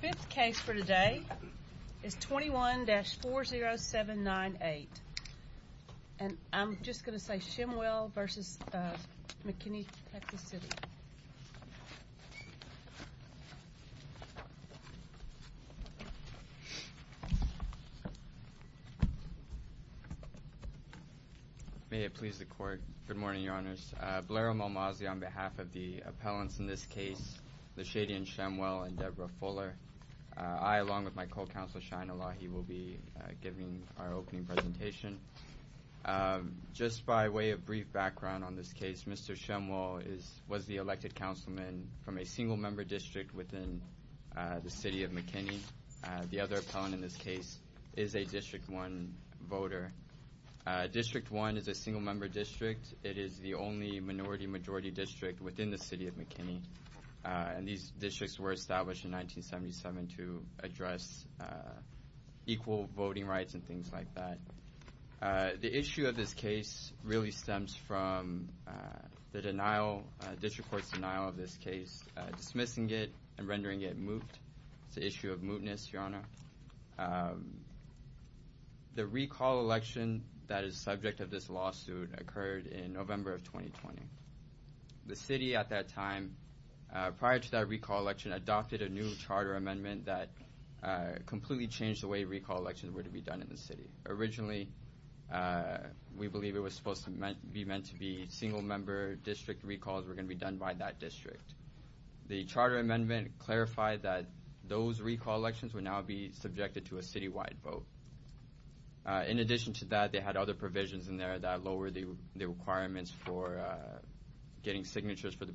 Fifth case for today is 21-40798, and I'm just going to say Shemwell v. McKinney, Texas City. May it please the court. Good morning, your honors. Blero Malmazzi on behalf of the I, along with my co-counsel Shine Elahi, will be giving our opening presentation. Just by way of brief background on this case, Mr. Shemwell was the elected councilman from a single-member district within the city of McKinney. The other appellant in this case is a District 1 voter. District 1 is a single-member district. It is the only minority-majority district within the to address equal voting rights and things like that. The issue of this case really stems from the denial, district court's denial of this case, dismissing it and rendering it moot. It's the issue of mootness, your honor. The recall election that is subject of this lawsuit occurred in November of 2020. The city at that time, prior to that recall election, adopted a new charter amendment that completely changed the way recall elections were to be done in the city. Originally, we believe it was supposed to be meant to be single-member district recalls were going to be done by that district. The charter amendment clarified that those recall elections would now be subjected to a city-wide vote. In addition to that, they had other provisions in there that lowered the requirements for getting signatures for the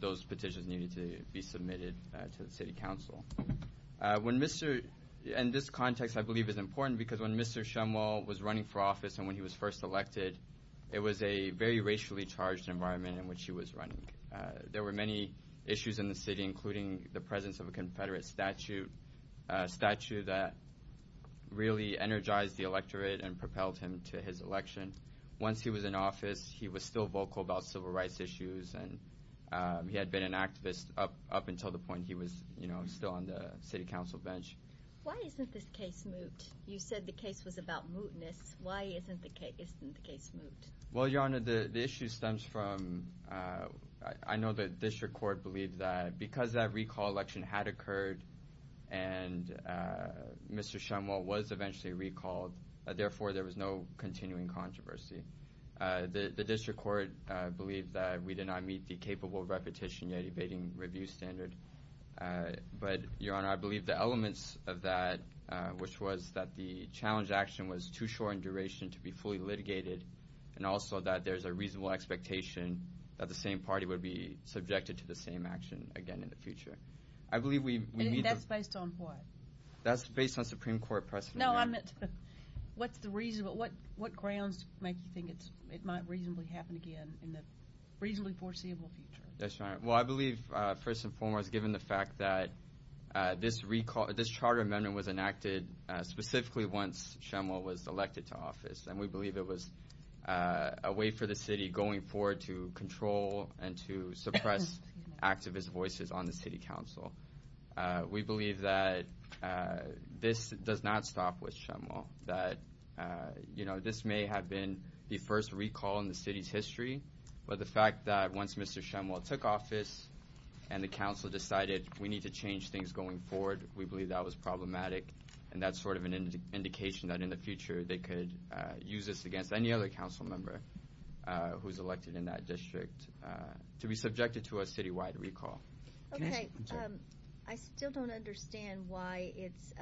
those petitions needed to be submitted to the city council. In this context, I believe it's important because when Mr. Shumwalt was running for office and when he was first elected, it was a very racially charged environment in which he was running. There were many issues in the city, including the presence of a confederate statute, a statute that really energized the electorate and propelled him to his election. Once he was in office, he was still vocal about civil rights issues. He had been an activist up until the point he was still on the city council bench. Why isn't this case moot? You said the case was about mootness. Why isn't the case moot? Well, Your Honor, the issue stems from... I know the district court believed that because that recall election had occurred and Mr. Shumwalt was eventually recalled, therefore there was no we did not meet the capable repetition yet evading review standard. But Your Honor, I believe the elements of that, which was that the challenge action was too short in duration to be fully litigated and also that there's a reasonable expectation that the same party would be subjected to the same action again in the future. I believe we need... And that's based on what? That's based on Supreme Court precedent. No, I meant what's the reason, what grounds make you think it might reasonably happen again in the reasonably foreseeable future? Yes, Your Honor. Well, I believe first and foremost given the fact that this charter amendment was enacted specifically once Shumwalt was elected to office and we believe it was a way for the city going forward to control and to suppress activist voices on the city council. We believe that this does not stop with Shumwalt, that you know this may have been the first recall in the city's history, but the fact that once Mr. Shumwalt took office and the council decided we need to change things going forward, we believe that was problematic and that's sort of an indication that in the future they could use this against any other council member who's elected in that district to be subjected to a city-wide recall. Okay, I still don't understand why it's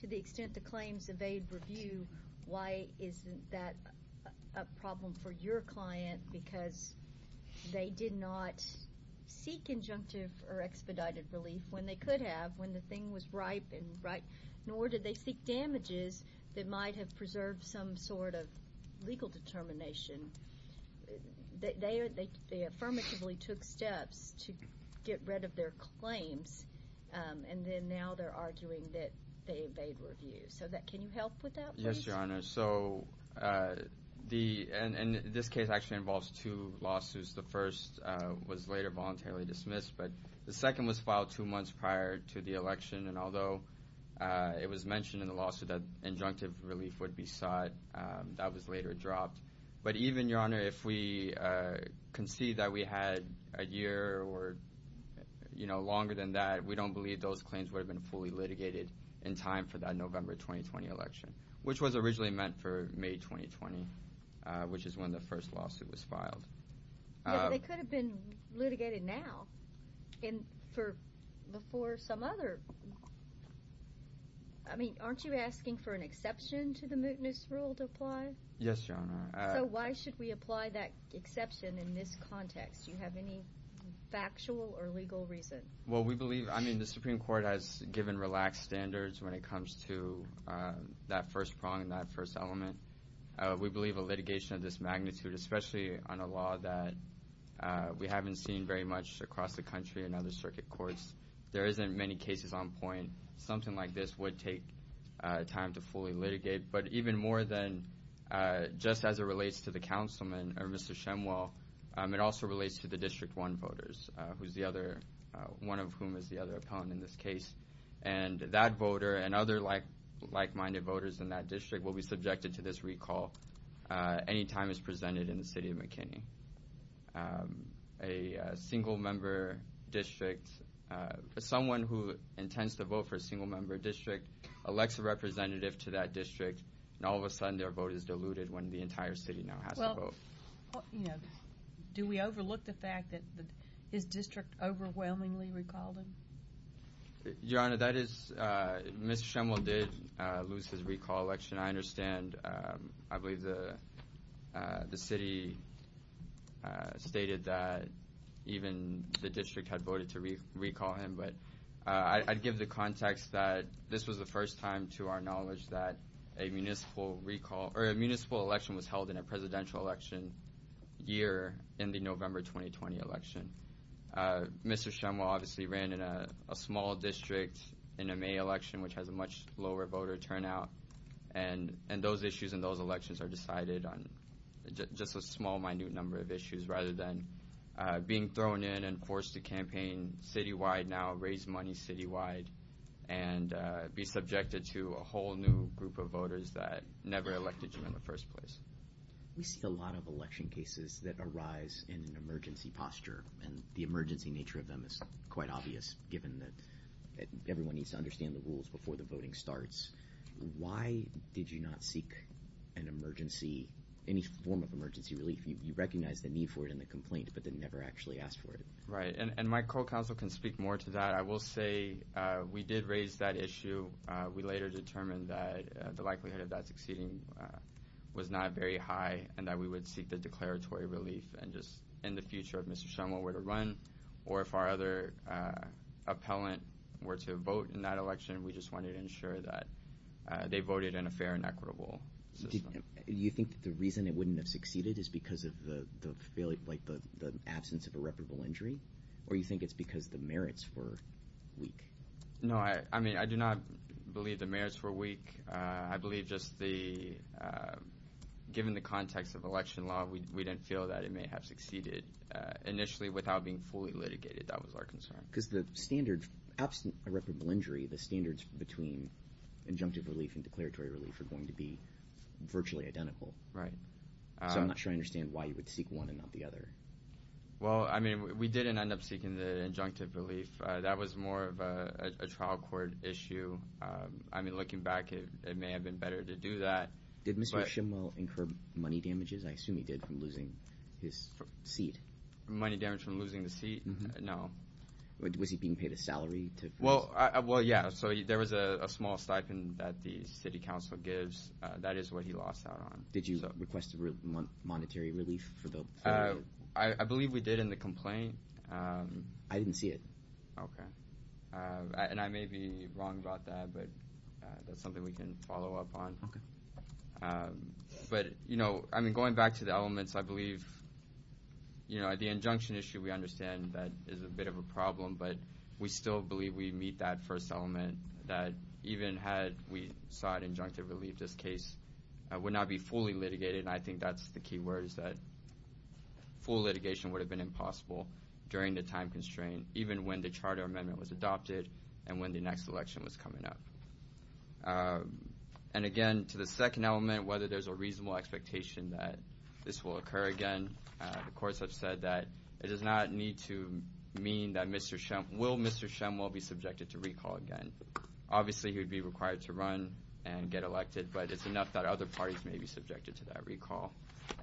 to the extent the claims evade review, why isn't that a problem for your client because they did not seek injunctive or expedited relief when they could have when the thing was ripe and right, nor did they seek damages that might have get rid of their claims and then now they're arguing that they evade review. So that can you help with that? Yes your honor, so the and this case actually involves two lawsuits. The first was later voluntarily dismissed, but the second was filed two months prior to the election and although it was mentioned in the lawsuit that injunctive relief would be sought, that was later you know longer than that. We don't believe those claims would have been fully litigated in time for that November 2020 election, which was originally meant for May 2020, which is when the first lawsuit was filed. They could have been litigated now and for before some other, I mean aren't you asking for an exception to the mootness rule to apply? Yes your honor. So why should we apply that exception in this context? Do you have any factual or legal reason? Well we believe, I mean the Supreme Court has given relaxed standards when it comes to that first prong and that first element. We believe a litigation of this magnitude, especially on a law that we haven't seen very much across the country and other circuit courts, there isn't many cases on point. Something like this would take time to fully litigate, but even more than just as it relates to the councilman or Mr. Shemwell, it also relates to the district one voters, who's the other, one of whom is the other opponent in this case and that voter and other like like-minded voters in that district will be subjected to this recall anytime it's presented in the city of McKinney. A single member district, someone who intends to vote for a single their vote is diluted when the entire city now has to vote. Do we overlook the fact that his district overwhelmingly recalled him? Your honor, that is, Mr. Shemwell did lose his recall election. I understand, I believe the city stated that even the district had voted to recall him, but I'd give the context that this was the first time to our knowledge that a municipal recall or a municipal election was held in a presidential election year in the November 2020 election. Mr. Shemwell obviously ran in a small district in a May election which has a much lower voter turnout and those issues in those elections are decided on just a small minute number of issues rather than being thrown in and forced to campaign citywide now, raise money citywide, and be subjected to a whole new group of voters that never elected him in the first place. We see a lot of election cases that arise in an emergency posture and the emergency nature of them is quite obvious given that everyone needs to understand the rules before the voting starts. Why did you not seek an emergency, any form of emergency relief? You recognize the need for it in the complaint but then never actually asked for it. Right, and my co-counsel can speak more to that. I will say we did raise that issue. We later determined that the likelihood of that succeeding was not very high and that we would seek the declaratory relief and just in the future if Mr. Shemwell were to run or if our other appellant were to vote in that election, we just wanted to ensure that they voted in a fair and equitable system. Do you think that the reason it wouldn't have succeeded is because of the the absence of irreparable injury or you think it's because the merits were weak? No, I mean, I do not believe the merits were weak. I believe just given the context of election law, we didn't feel that it may have succeeded initially without being fully litigated. That was our concern. Because the standard, absent irreparable injury, the standards between injunctive relief and declaratory relief are going to be virtually identical. Right. So I'm not sure I understand why you would seek one and not the other. Well, I mean, we didn't end up seeking the injunctive relief. That was more of a trial court issue. I mean, looking back, it may have been better to do that. Did Mr. Shemwell incur money damages? I assume he did from losing his seat. Money damage from losing the seat? No. Was he being paid a salary? Well, yeah. So there was a small stipend that the city council gives. That is what he lost out on. Did you request monetary relief? I believe we did in the complaint. I didn't see it. Okay. And I may be wrong about that, but that's something we can follow up on. Okay. But, you know, I mean, going back to the elements, I believe, you know, the injunction issue, we understand that is a bit of a problem, but we still believe we meet that first element, that even had we sought injunctive relief, this case would not be fully litigated. And I think that's the key word is that full litigation would have been impossible during the time constraint, even when the charter amendment was adopted and when the next election was coming up. And again, to the second element, whether there's a reasonable expectation that this will occur again, the courts have said that it does not need to mean that Mr. Shemwell will be subjected to recall again. Obviously, he would be required to run and get elected, but it's enough that other parties may be subjected to that recall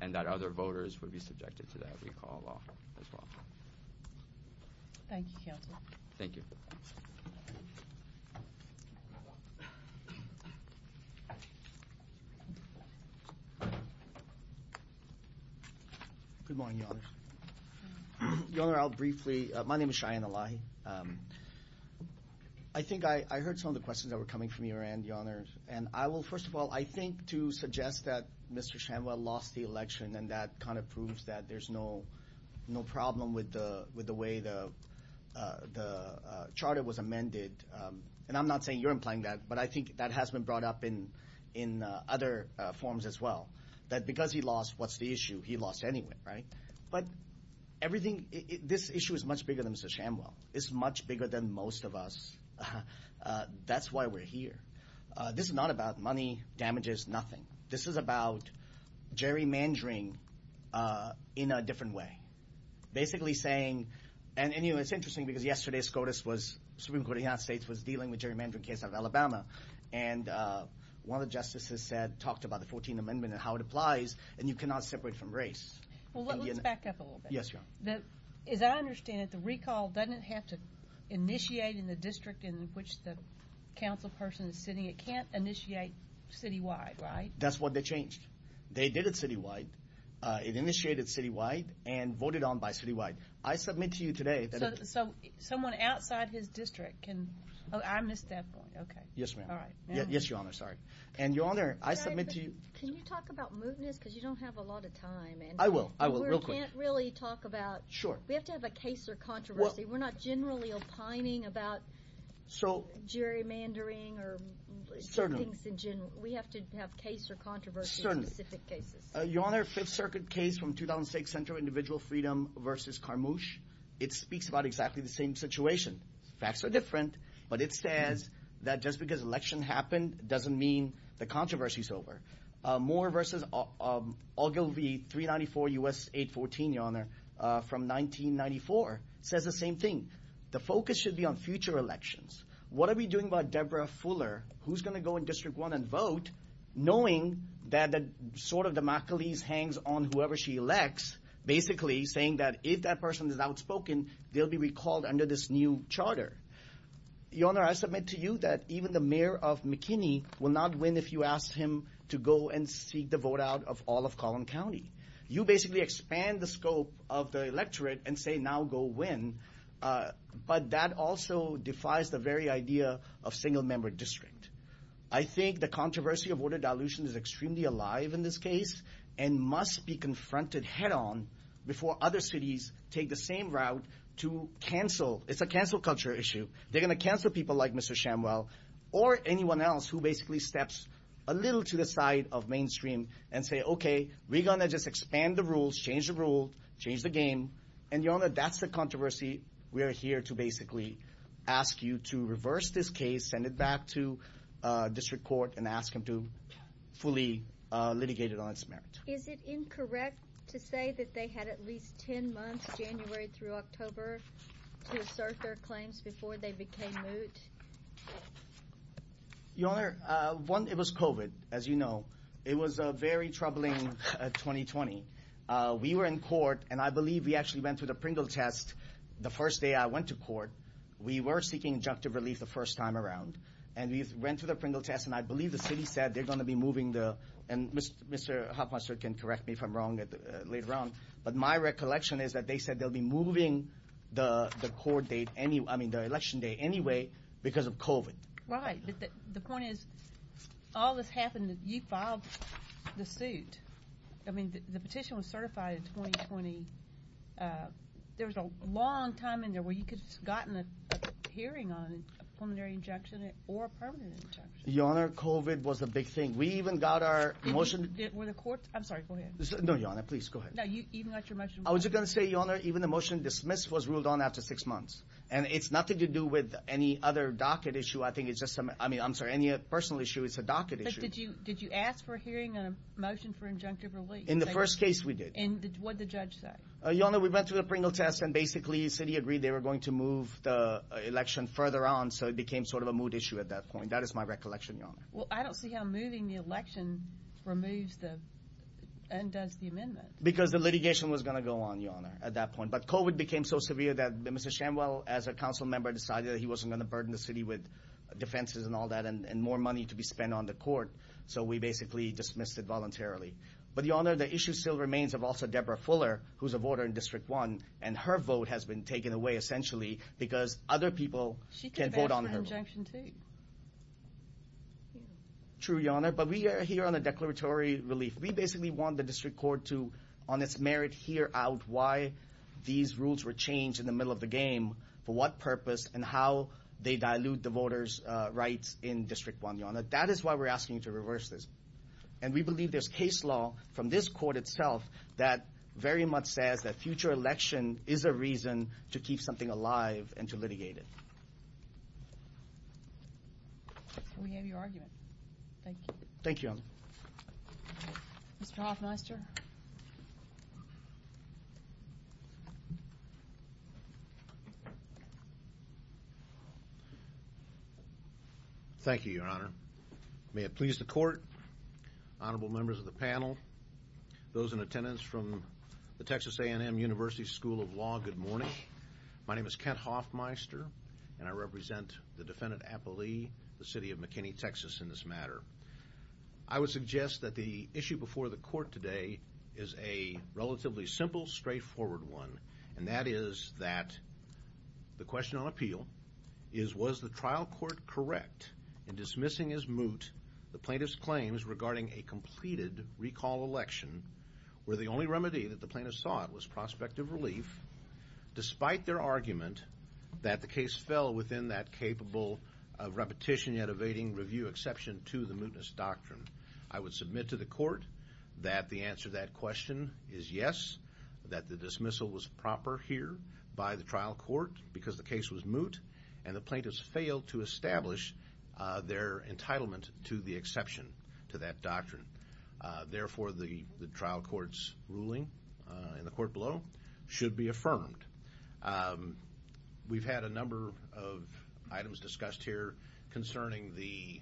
and that other voters would be subjected to that recall law as well. Thank you, counsel. Thank you. Good morning, Your Honor. Your Honor, I'll briefly, my name is Cheyenne Elahi. I think I heard some of the questions that were coming from your end, Your Honor, and I will, first of all, I think to suggest that Mr. Shemwell lost the election and that kind of was amended. And I'm not saying you're implying that, but I think that has been brought up in other forms as well, that because he lost, what's the issue? He lost anyway, right? But everything, this issue is much bigger than Mr. Shemwell. It's much bigger than most of us. That's why we're here. This is not about money, damages, nothing. This is about gerrymandering in a different way. Basically saying, and anyway, it's interesting because yesterday, SCOTUS was, Supreme Court of the United States was dealing with gerrymandering case of Alabama, and one of the justices said, talked about the 14th Amendment and how it applies, and you cannot separate from race. Well, let's back up a little bit. Yes, Your Honor. That, as I understand it, the recall doesn't have to initiate in the district in which the council person is sitting. It can't initiate citywide, right? That's what they changed. They did it citywide. It initiated citywide and voted on by citywide. I submit to you today that- So someone outside his district can, oh, I missed that point. Okay. Yes, ma'am. All right. Yes, Your Honor. Sorry. And Your Honor, I submit to you- Can you talk about mootness? Because you don't have a lot of time and- I will. I will, real quick. We can't really talk about- Sure. We have to have a case or controversy. We're not generally opining about gerrymandering or- Certainly. We have to have case or controversy on specific cases. Your Honor, Fifth Circuit case from 2006 Central Individual Freedom versus Carmouche, it speaks about exactly the same situation. Facts are different, but it says that just because election happened doesn't mean the controversy's over. Moore versus Ogilvie 394 U.S. 814, Your Honor, from 1994, says the same thing. The focus should be on future elections. What are we doing about Deborah Fuller, who's going to go in District 1 and vote, knowing that the sword of Damocles hangs on whoever she elects, basically saying that if that person is outspoken, they'll be recalled under this new charter? Your Honor, I submit to you that even the mayor of McKinney will not win if you ask him to go and seek the vote out of all of Collin County. You basically expand the scope of the electorate and say, now go win, but that also defies the very idea of single-member district. I think the controversy of order dilution is extremely alive in this case and must be confronted head-on before other cities take the same route to cancel. It's a cancel culture issue. They're going to cancel people like Mr. Shamwell or anyone else who basically steps a little to the side of mainstream and say, okay, we're going to just expand the rules, change the rule, change the game, and Your Honor, that's the controversy we're here to basically ask you to reverse this case, send it back to District Court, and ask them to fully litigate it on its merit. Is it incorrect to say that they had at least 10 months, January through October, to assert their claims before they became moot? Your Honor, one, it was COVID, as you know. It was a very troubling 2020. We were in court, and I believe we actually went through the Pringle test the first day I went to court. We were seeking injunctive relief the first time around, and we went through the Pringle test, and I believe the city said they're going to be moving the, and Mr. Hofmeister can correct me if I'm wrong later on, but my recollection is that they said they'll be moving the court date, I mean the election day anyway, because of COVID. Right, but the point is, all this happened, you filed the suit. I mean, the petition was certified in 2020. There was a long time in there where you could have gotten a hearing on a preliminary injunction or a permanent injunction. Your Honor, COVID was a big thing. We even got our motion. Were the courts, I'm sorry, go ahead. No, Your Honor, please go ahead. No, you even got your motion. I was just going to say, Your Honor, even the motion dismissed was ruled on after six months, and it's nothing to do with any other docket issue. I think it's just, I mean, I'm sorry, any personal issue, it's a docket issue. Did you ask for a hearing on a motion for injunctive relief? In the first case, we did. And what did the judge say? Your Honor, we went through the Pringle test, and basically, the city agreed they were going to move the election further on, so it became sort of a mood issue at that point. That is my recollection, Your Honor. Well, I don't see how moving the election removes the, undoes the amendment. Because the litigation was going to go on, Your Honor, at that point, but COVID became so severe that Mr. Shanwell, as a council member, decided that he wasn't going to burden the city with defenses and all that, and more money to be so we basically dismissed it voluntarily. But Your Honor, the issue still remains of also Deborah Fuller, who's a voter in District 1, and her vote has been taken away, essentially, because other people can vote on their vote. She could have asked for an injunction too. True, Your Honor, but we are here on a declaratory relief. We basically want the District Court to, on its merit, hear out why these rules were changed in the middle of the game, for what purpose, and how they dilute the voters' rights in District 1, Your Honor. That is why we're asking you to reverse this. And we believe there's case law from this court itself that very much says that future election is a reason to keep something alive and to litigate it. We have your argument. Thank you. Thank you, Your Honor. Mr. Hofmeister. Thank you, Your Honor. May it please the Court, honorable members of the panel, those in attendance from the Texas A&M University School of Law, good morning. My name is Kent Hofmeister, and I represent the defendant, Appali, the city of McKinney, Texas, in this matter. I would suggest that the issue before the court today is a relatively simple, straightforward one, and that is that the question on appeal is, was the trial court correct in dismissing as moot the plaintiff's claims regarding a completed recall election, where the only remedy that the plaintiff sought was prospective relief, despite their argument that the case fell within that capable of repetition yet evading review exception to the mootness doctrine. I would submit to the court that the answer to that question is yes, that the dismissal was proper here by the trial court, because the case was moot, and the plaintiffs failed to establish their entitlement to the exception to that doctrine. Therefore, the trial court's ruling in the court below should be affirmed. We've had a number of items discussed here concerning the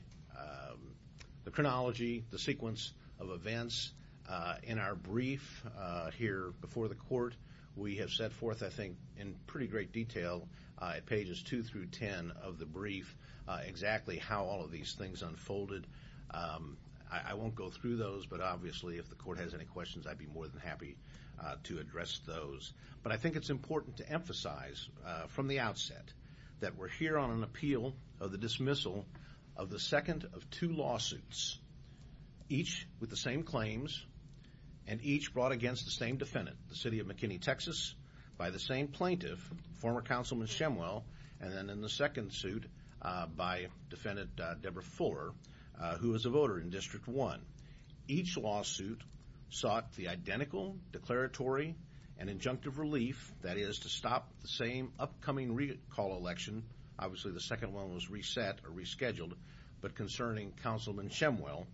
chronology, the sequence of events in our brief here before the court. We have set forth, I think, in pretty great detail at pages 2 through 10 of the brief exactly how all of these things unfolded. I won't go through those, but obviously if the court has any questions, I'd be more than happy to address those. But I think it's important to emphasize from the outset that we're here on an appeal of the dismissal of the second of two lawsuits, each with the same claims and each brought against the same defendant, the city of McKinney, Texas, by the same plaintiff, former Councilman Shemwell, and then in the second suit by defendant Deborah Fuller, who was a voter in District 1. Each lawsuit sought the identical declaratory and injunctive relief, that is, to stop the same upcoming recall election. Obviously, the second one was reset or rescheduled, but concerning Councilman Shemwell,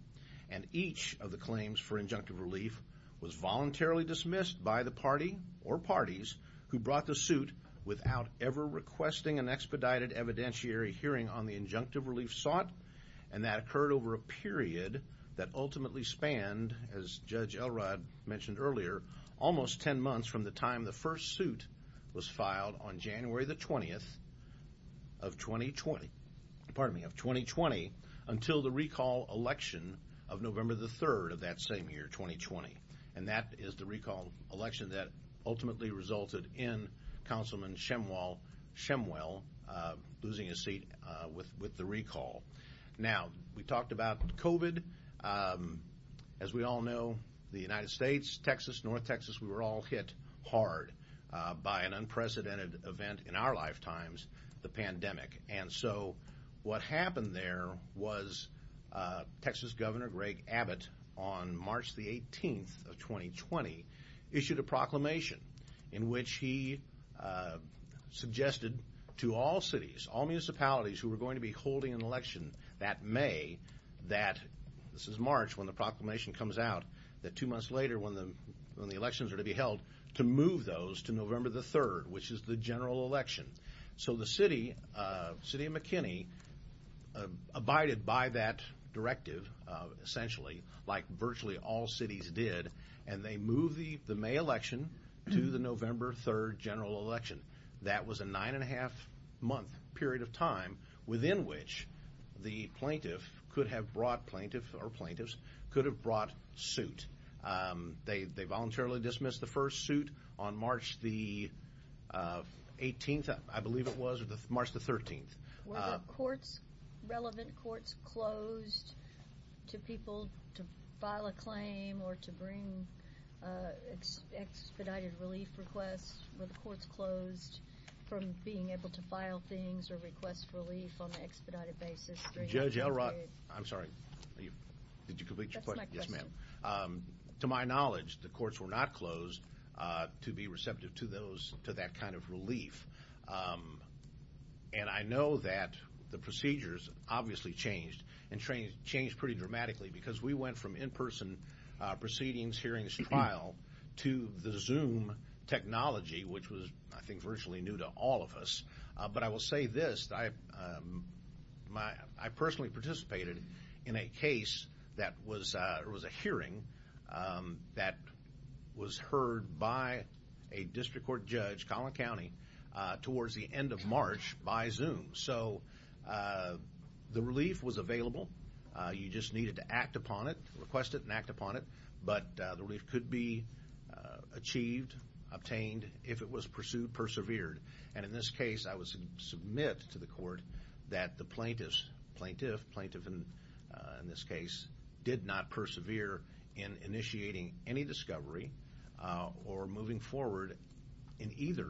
and each of the claims for injunctive relief was voluntarily dismissed by the party or parties who brought the suit without ever requesting an expedited evidentiary hearing on the injunctive relief sought, and that occurred over a period that ultimately spanned, as Judge Elrod mentioned earlier, almost 10 months from the time the first suit was filed on January the 20th of 2020, pardon me, of 2020 until the recall election of November the 3rd of that same year, 2020, and that is the recall election that ultimately resulted in Councilman Shemwell losing his seat with the recall. Now, we talked about COVID. As we all know, the United States, Texas, North Texas, we were all hit hard by an unprecedented event in our lifetimes, the pandemic, and so what happened there was Texas Governor Greg Abbott on March the 18th of 2020 issued a proclamation in which he suggested to all cities, all municipalities who were going to be holding an election that May, that this is March when the proclamation comes out, that two months later when the elections are to be held, to move those to November the 3rd, which is the general election. So the City of McKinney abided by that directive essentially, like virtually all cities did, and they moved the May election to the November 3rd general election. That was a nine and a half month period of time within which the plaintiff could have brought, or plaintiffs, could have brought suit. They voluntarily dismissed the first suit on March the 18th, I believe it was, or March the 13th. Were the relevant courts closed to people to file a claim or to bring expedited relief requests? Were the courts closed from being able to file things or request relief on an expedited basis? Judge Elrod, I'm sorry, did you complete your question? Yes, ma'am. To my knowledge, the courts were not closed to be receptive to those, to that kind of relief, and I know that the procedures obviously changed, and changed pretty dramatically because we went from in-person proceedings, hearings, trial, to the Zoom technology, which was, I think, virtually new to all of us. But I will say this, I personally participated in a case that was a hearing that was heard by a district court judge, Collin County, towards the end of March by Zoom. So the relief was available. You just needed to act upon it, request it, and act upon it. But the relief could be achieved, obtained, if it was pursued, persevered. And in this case, I would submit to the court that the plaintiffs, plaintiff, plaintiff in this case, did not persevere in initiating any discovery or moving forward in either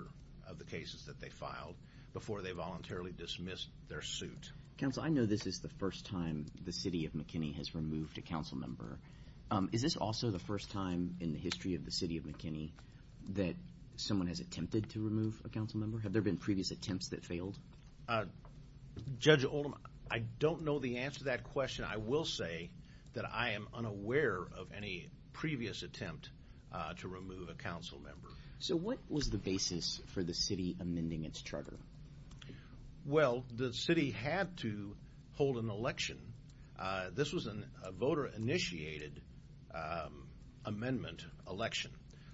of the cases that they filed before they voluntarily dismissed their suit. Counsel, I know this is the first time the city of McKinney has removed a council member. Is this also the first time in the history of the city of McKinney that someone has attempted to remove a council member? Have there been previous attempts that failed? Judge Oldham, I don't know the answer to that question. I will say that I am unaware of any previous attempt to remove a council member. So what was the basis for the city amending its hold an election? This was a voter-initiated amendment election.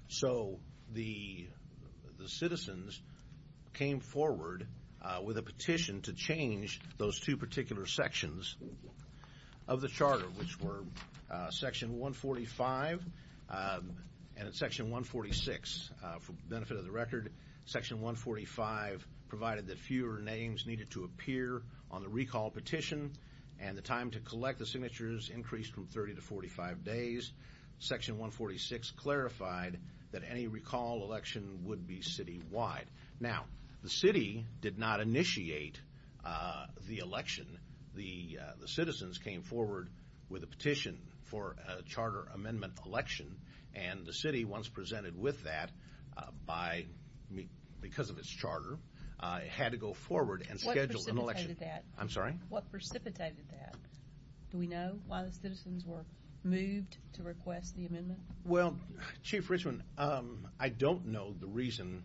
So the citizens came forward with a petition to change those two particular sections of the charter, which were section 145 and section 146. For the benefit of the record, section 145 provided that fewer names needed to appear on the recall petition and the time to collect the signatures increased from 30 to 45 days. Section 146 clarified that any recall election would be citywide. Now, the city did not initiate the election. The citizens came forward with a petition for a charter amendment election and the city, once presented with that, because of its charter, had to go forward and schedule an election. What precipitated that? Do we know why the citizens were moved to request the amendment? Well, Chief Richman, I don't know the reason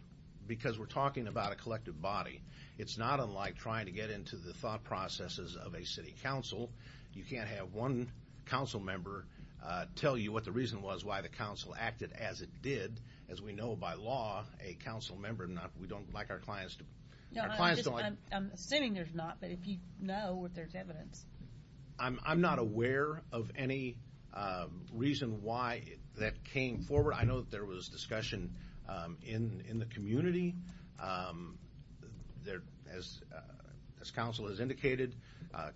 because we're talking about a collective body. It's not unlike trying to get into the thought processes of a city council. You can't have one council member tell you what the reason was why the council acted as it did. As we know by law, a council member, we don't like our clients to like... I'm assuming there's not, but if you know that there's evidence... I'm not aware of any reason why that came forward. I know that there was discussion in the community. As council has indicated,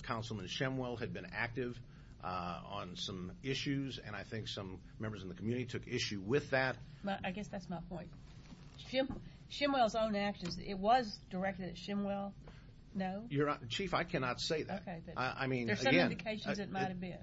Councilman Shemwell had been active on some issues, and I think some members in the community took issue with that. I guess that's my point. Shemwell's own actions, it was directed at Shemwell? No? Chief, I cannot say that. I mean, again,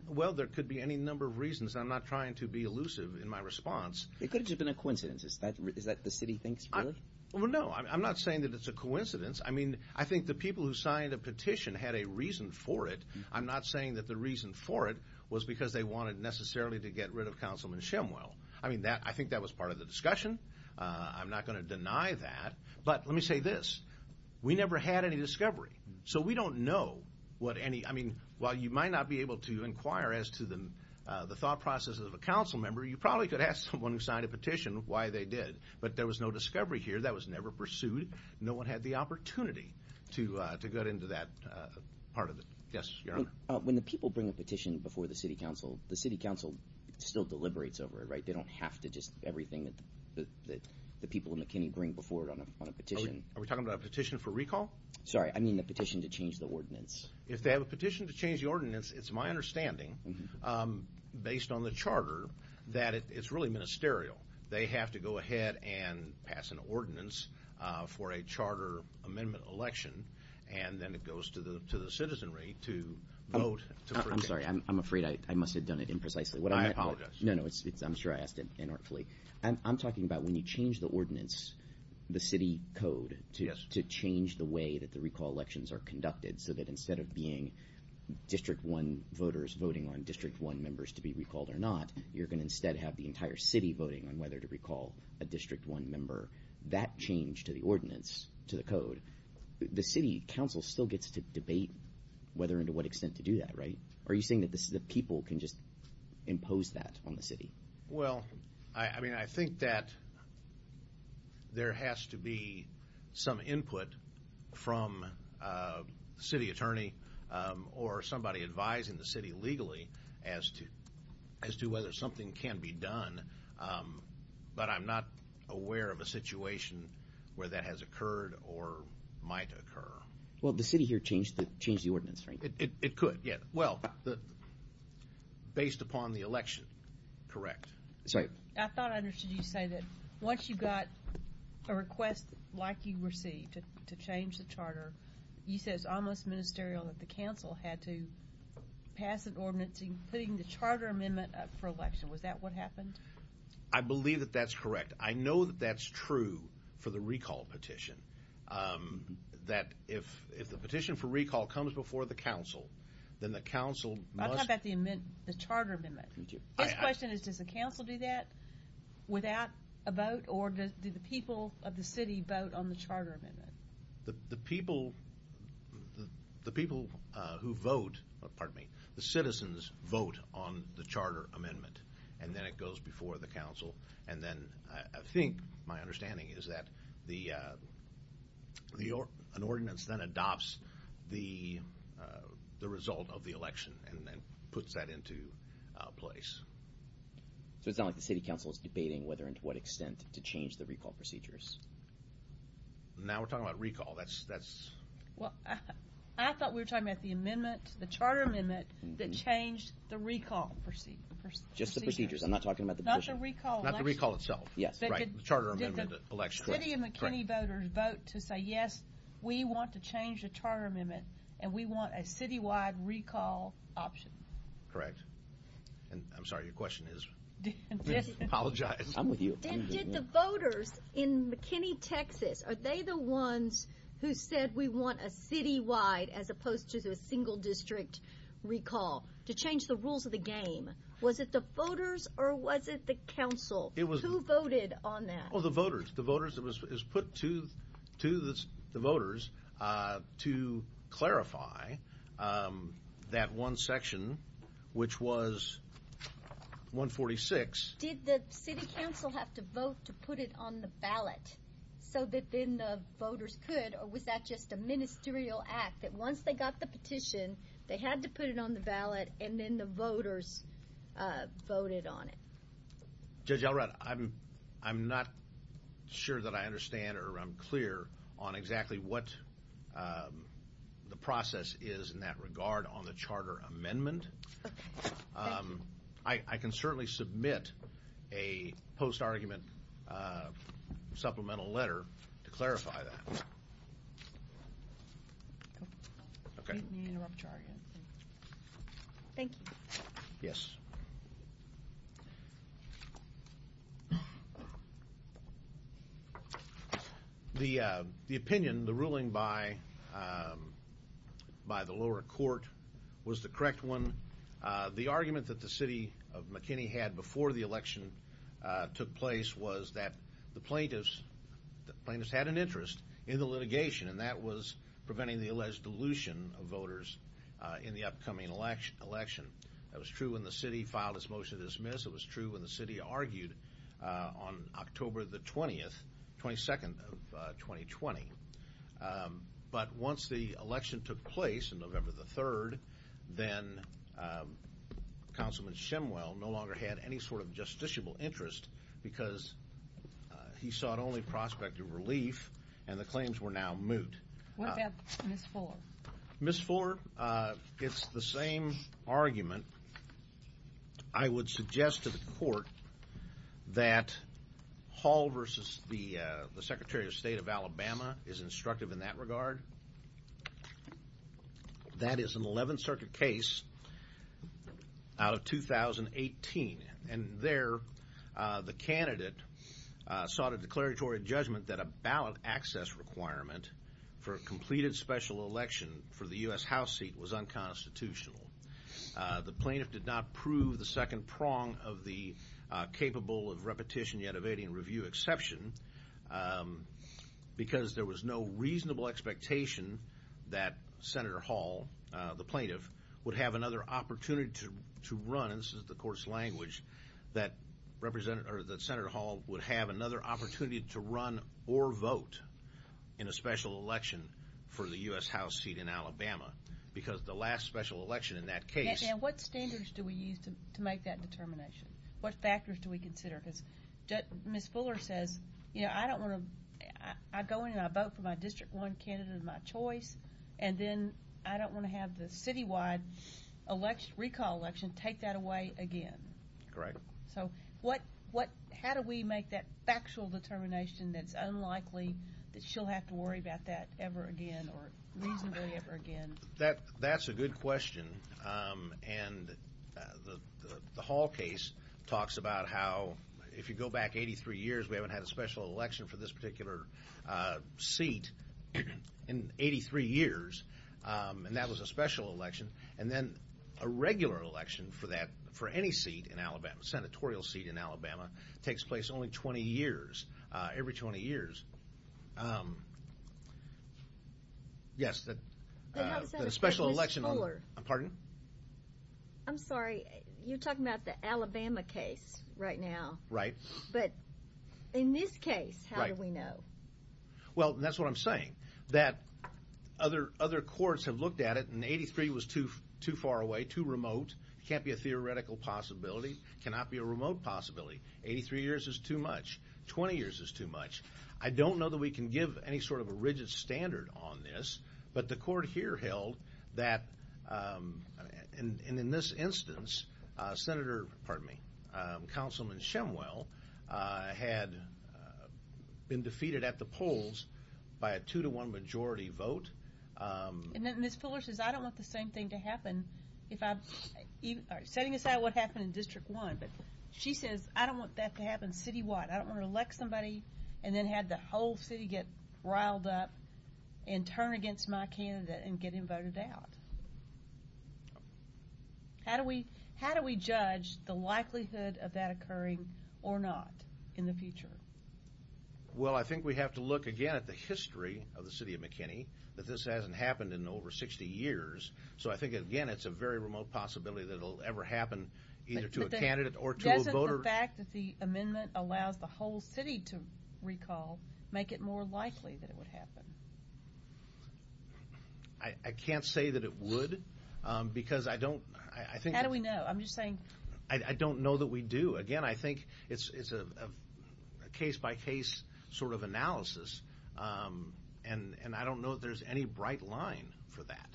well, there could be any number of reasons. I'm not trying to be elusive in my response. It could have just been a coincidence. Is that the city thinks, really? Well, no. I'm not saying that it's a coincidence. I mean, I think the people who signed a petition had a reason for it. I'm not saying that the reason for it was because they wanted necessarily to get rid of Councilman Shemwell. I mean, I think that was part of the discussion. I'm not going to deny that, but let me say this. We never had any discovery, so we don't know what any... I mean, while you might not be able to sign a petition, why they did, but there was no discovery here. That was never pursued. No one had the opportunity to get into that part of it. Yes, your honor. When the people bring a petition before the City Council, the City Council still deliberates over it, right? They don't have to just everything that the people of McKinney bring before it on a petition. Are we talking about a petition for recall? Sorry, I mean the petition to change the ordinance. If they have a petition to change the ordinance, it's my understanding, based on the charter, that it's really ministerial. They have to go ahead and pass an ordinance for a charter amendment election, and then it goes to the citizenry to vote. I'm sorry, I'm afraid I must have done it imprecisely. I apologize. No, no, I'm sure I asked it inartfully. I'm talking about when you change the ordinance, the city code, to change the way that the recall elections are conducted, so that instead of being district one members to be recalled or not, you're going to instead have the entire city voting on whether to recall a district one member. That change to the ordinance, to the code, the City Council still gets to debate whether and to what extent to do that, right? Are you saying that the people can just impose that on the city? Well, I mean, I think that there has to be some input from the city attorney or somebody advising the city legally as to whether something can be done, but I'm not aware of a situation where that has occurred or might occur. Well, the city here changed the ordinance, right? It could, yeah. Well, based upon the election, correct. I thought I understood you say that once you got a request like you received to change the charter, you said it's almost ministerial that the council had to pass an ordinance including the charter amendment for election. Was that what happened? I believe that that's correct. I know that that's true for the recall petition, that if the petition for recall comes before the council, then the council must... I'm talking about the charter amendment. You do. This question is, does the council do that without a vote, or do the people of the city vote on the charter amendment? The people who vote, pardon me, the citizens vote on the charter amendment, and then it goes before the council, and then I think my understanding is that an ordinance then adopts the result of the election and then puts that into place. So it's not like the city council is debating whether and to what extent to change the recall procedures? Now we're talking about recall. That's... Well, I thought we were talking about the amendment, the charter amendment that changed the recall procedure. Just the procedures. I'm not talking about the petition. Not the recall. Not the recall itself. Yes. Right. The charter amendment elects... The city of McKinney voters vote to say, yes, we want to change the charter amendment, and we want a citywide recall option. Correct. And I'm sorry, your question is? Apologize. I'm with you. Then did the voters in McKinney, Texas, are they the ones who said we want a citywide as opposed to a single district recall to change the rules of the game? Was it the voters or was it the council? Who voted on that? Oh, the voters. The voters. It was put to the voters to clarify that one section, which was 146. Did the city council have to vote to put it on the ballot so that then the voters could, or was that just a ministerial act that once they got the petition, they had to put it on the ballot and then the voters voted on it? Judge Elrod, I'm not sure that I understand or I'm clear on exactly what the process is in that regard on the charter amendment. Okay. Thank you. I can certainly submit a post-argument supplemental letter to clarify that. Okay. Thank you. Yes. The opinion, the ruling by the lower court was the correct one. The argument that the city of McKinney had before the election took place was that the plaintiffs had an interest in the litigation and that was preventing the alleged dilution of voters in the upcoming election. That was true when the city filed its motion to dismiss. It was true when the city argued on October the 20th, 22nd of 2020. But once the election took place on November the 3rd, then Councilman Shemwell no longer had any sort of justiciable interest because he sought only prospect of relief and the claims were now moot. What about Ms. Fuller? Ms. Fuller, it's the same argument. I would suggest to the court that Hall versus the plaintiff is instructive in that regard. That is an 11th Circuit case out of 2018. And there, the candidate sought a declaratory judgment that a ballot access requirement for a completed special election for the U.S. House seat was unconstitutional. The plaintiff did not prove the second prong of the capable of repetition yet evading review exception because there was no reasonable expectation that Senator Hall, the plaintiff, would have another opportunity to run, and this is the court's language, that Senator Hall would have another opportunity to run or vote in a special election for the U.S. House seat in Alabama. Because the last special election in that case... And what standards do we use to make that determination? What factors do we consider? Ms. Fuller says, you know, I don't want to... I go in and I vote for my District 1 candidate of my choice, and then I don't want to have the citywide recall election take that away again. Correct. So how do we make that factual determination that's unlikely that she'll have to worry about that ever again or reasonably ever again? That's a good question, and the Hall case talks about how, if you go back 83 years, we haven't had a special election for this particular seat in 83 years, and that was a special election, and then a regular election for that, for any seat in Alabama, senatorial seat in Alabama, takes place only 20 years, every 20 years. And how does that affect Ms. Fuller? Yes, the special election on... Pardon? I'm sorry, you're talking about the Alabama case right now. Right. But in this case, how do we know? Well, that's what I'm saying, that other courts have looked at it, and 83 was too far away, too remote, can't be a theoretical possibility, cannot be a remote possibility. 83 years is too much, 20 years is too much. I don't know that we can give any sort of a rigid standard on this, but the court here held that, and in this instance, Senator, pardon me, Councilman Shumwell had been defeated at the polls by a two to one majority vote. Ms. Fuller says, I don't want the same thing to happen if I... Setting aside what happened in District 1, but she says, I don't want that to happen city wide, I don't want to elect somebody and then have the whole city get riled up and turn against my candidate and get him voted out. How do we judge the likelihood of that occurring or not in the future? Well, I think we have to look again at the history of the city of McKinney, that this hasn't happened in over 60 years, so I think, again, it's a very remote possibility that it'll ever happen either to a candidate or to a voter. But doesn't the fact that the amendment allows the whole city to recall make it more likely that it would happen? I can't say that it would, because I don't... How do we know? I'm just saying... I don't know that we do. Again, I think it's a case by case sort of analysis, and I don't know if there's any bright line for that.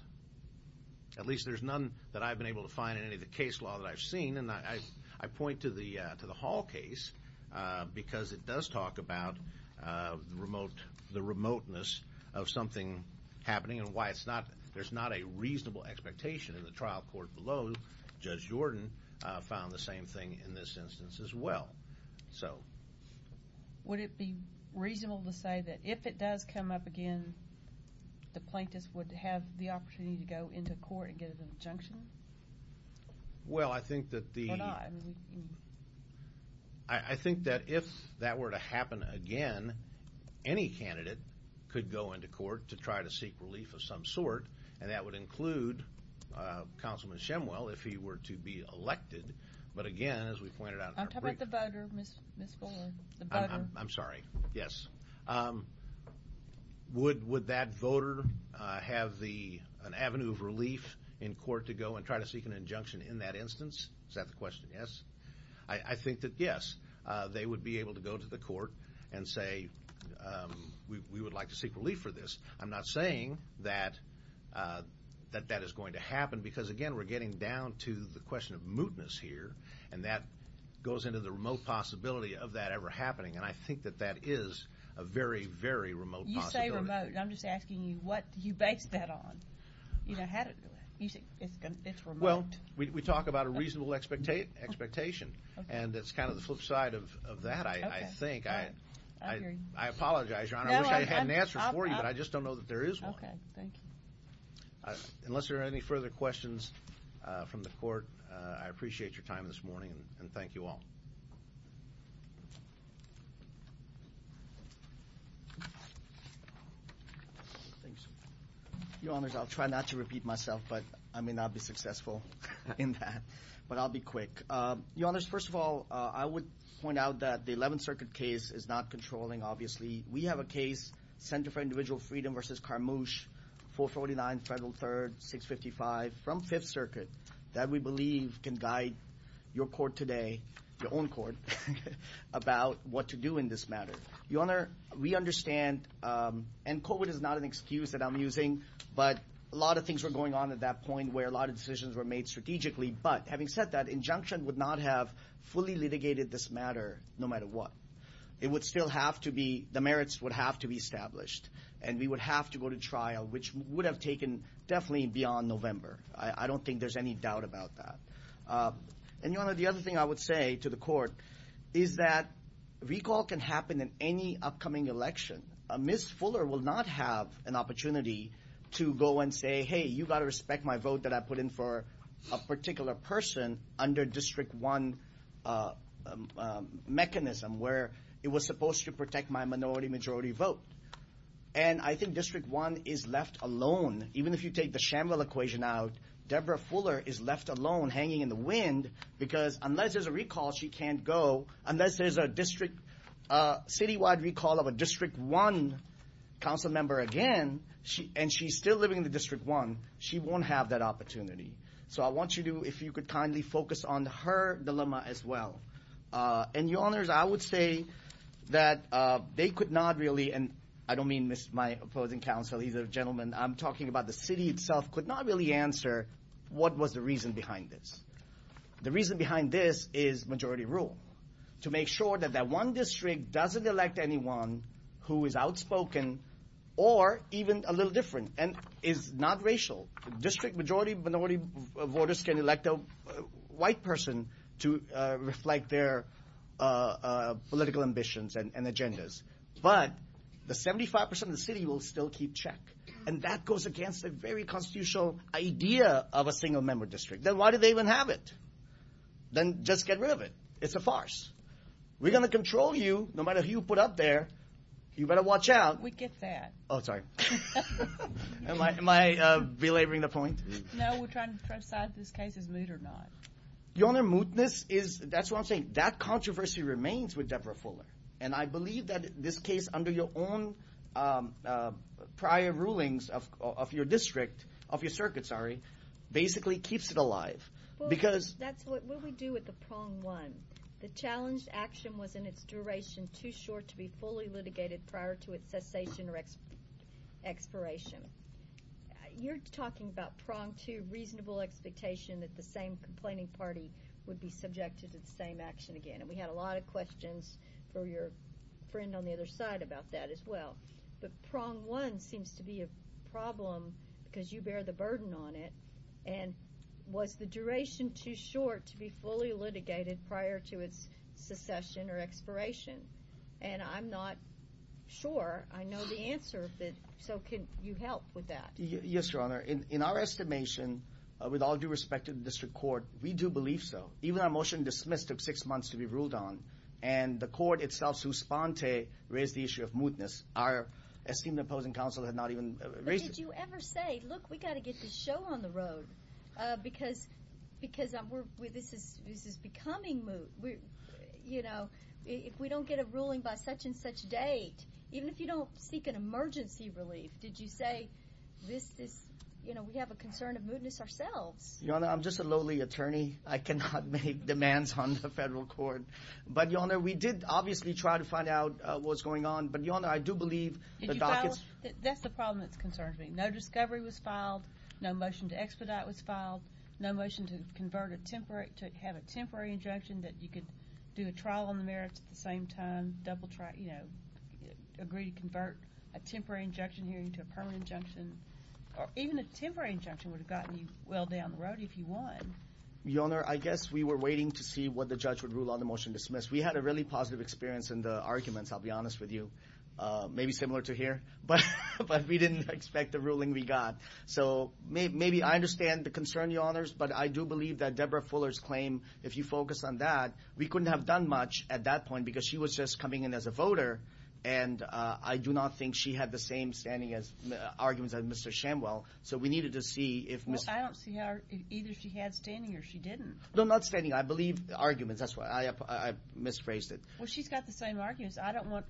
At least there's none that I've been able to find in any of the case law that I've seen, and I point to the Hall case because it does talk about the remoteness of something happening and why there's not a reasonable expectation in the trial court below. Judge Jordan found the same thing in this instance as well. Would it be reasonable to say that if it does come up again, the plaintiffs would have the opportunity to go into court and get an injunction? Well, I think that if that were to happen again, any candidate could go into court to try to seek relief of some sort, and that would include Councilman Shemwell if he were to be elected. But again, as we pointed out... How about the voter, Ms. Fuller? I'm sorry. Yes. Would that voter have an avenue of relief in court to go and try to seek an injunction in that instance? Is that the question? Yes. I think that yes, they would be able to go to the court and say, we would like to seek relief for this. I'm not saying that that is going to the remote possibility of that ever happening, and I think that that is a very, very remote possibility. You say remote, and I'm just asking you, what do you base that on? How do you say it's remote? Well, we talk about a reasonable expectation, and it's kind of the flip side of that, I think. I apologize, Your Honor. I wish I had an answer for you, but I just don't know that there is one. Okay. Thank you. Unless there are any further questions from the court, I appreciate your time this morning, and thank you all. Thanks. Your Honors, I'll try not to repeat myself, but I may not be successful in that, but I'll be quick. Your Honors, first of all, I would point out that the 11th Circuit case is not controlling, obviously. We have a case, Center for Individual Freedom versus Karmush, 449 Federal 3rd, 655, from Fifth Circuit, that we believe can guide your court today, your own court, about what to do in this matter. Your Honor, we understand, and COVID is not an excuse that I'm using, but a lot of things were going on at that point where a lot of decisions were made strategically, but having said that, injunction would not have fully litigated this matter no matter what. It would still have to be, the merits would have to be established, and we would have to go to trial, which would have taken definitely beyond November. I don't think there's any doubt about that. And Your Honor, the other thing I would say to the court is that recall can happen in any upcoming election. Ms. Fuller will not have an opportunity to go and say, hey, you got to respect my vote that I put in for a particular person under District 1 mechanism where it was supposed to protect my minority majority vote. And I think District 1 is left alone. Even if you take the Shamville equation out, Deborah Fuller is left alone hanging in the wind because unless there's a recall, she can't go. Unless there's a district, citywide recall of a District 1 council member again, and she's still living in the District 1, she won't have that opportunity. So I want you to, if you could kindly focus on her dilemma as well. And Your Honors, I would say that they could not really, and I don't mean my opposing council, either gentleman, I'm talking about the city itself, could not really answer what was the reason behind this. The reason behind this is majority rule. To make sure that that one district doesn't elect anyone who is outspoken or even a little different and is not racial. District majority minority voters can elect a white person to reflect their political ambitions and agendas. But the 75% of the city will still keep check. And that goes against the very constitutional idea of a single member district. Then why do they even have it? Then just get rid of it. It's a farce. We're going to control you, no matter who you put up there. You better watch out. We get that. Oh, sorry. Am I belaboring the point? No, we're trying to decide if this case is moot or not. Your Honor, mootness is, that's what I'm saying. That controversy remains with Deborah Fuller. And I believe that this case under your own prior rulings of your district, of your circuit, sorry, basically keeps it alive. Well, that's what we do with the prong one. The challenged action was in its duration too short to be fully litigated prior to its cessation or expiration. You're talking about prong two, reasonable expectation that the same complaining party would be subjected to the same action again. And we had a lot of questions for your friend on the other side about that as well. But prong one seems to be a problem because you bear the burden on it. And was the duration too short to be fully litigated prior to its cessation or expiration? And I'm not sure. I know the answer. So can you help with that? Yes, Your Honor. In our estimation, with all due respect to the district court, we do believe so. Even our motion dismissed took six months to be ruled on. And the court itself, Suspante, raised the issue of mootness. Our esteemed opposing counsel had not even raised it. Did you ever say, look, we got to get this show on the road because this is becoming moot. If we don't get a ruling by such and such date, even if you don't seek an emergency relief, did you say we have a concern of mootness ourselves? Your Honor, I'm just a lowly attorney. I cannot make demands on the federal court. But Your Honor, we did obviously try to find out what's going on. But Your Honor, I do believe that's the problem that concerns me. No discovery was filed. No motion to expedite was filed. No motion to have a temporary injunction that you could do a trial on the merits at the same time, agree to convert a temporary injunction hearing to a permanent injunction. Or even a temporary injunction would have gotten you well down the road if you won. Your Honor, I guess we were waiting to see what the judge would rule on the motion dismissed. We had a really positive experience in the arguments, I'll be honest with you. Maybe similar to here. But we didn't expect the ruling we got. So maybe I understand the concern, Your Honors. But I do believe that Deborah Fuller's claim, if you focus on that, we couldn't have done much at that point because she was just coming in as a voter. And I do not think she had the same standing as arguments as Mr. Shamwell. So we needed to see if... I don't see how either she had standing or she didn't. No, not standing. I believe arguments. That's why I misphrased it. Well, she's got the same arguments. I don't want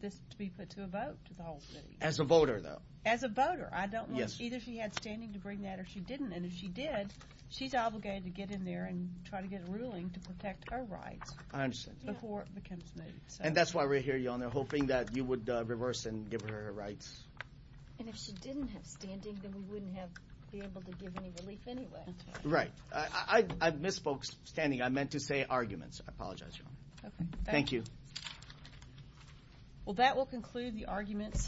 this to be put to a vote to the whole city. As a voter, though. As a voter. I don't want... Either she had standing to bring that or she didn't. And if she did, she's obligated to get in there and try to get a ruling to protect her rights. I understand. Before it becomes moved. And that's why we're here, Your Honor, hoping that you would reverse and give her her rights. And if she didn't have standing, then we wouldn't be able to give any relief anyway. Right. I misspoke standing. I meant to say arguments. I apologize, Your Honor. Thank you. Well, that will conclude the arguments.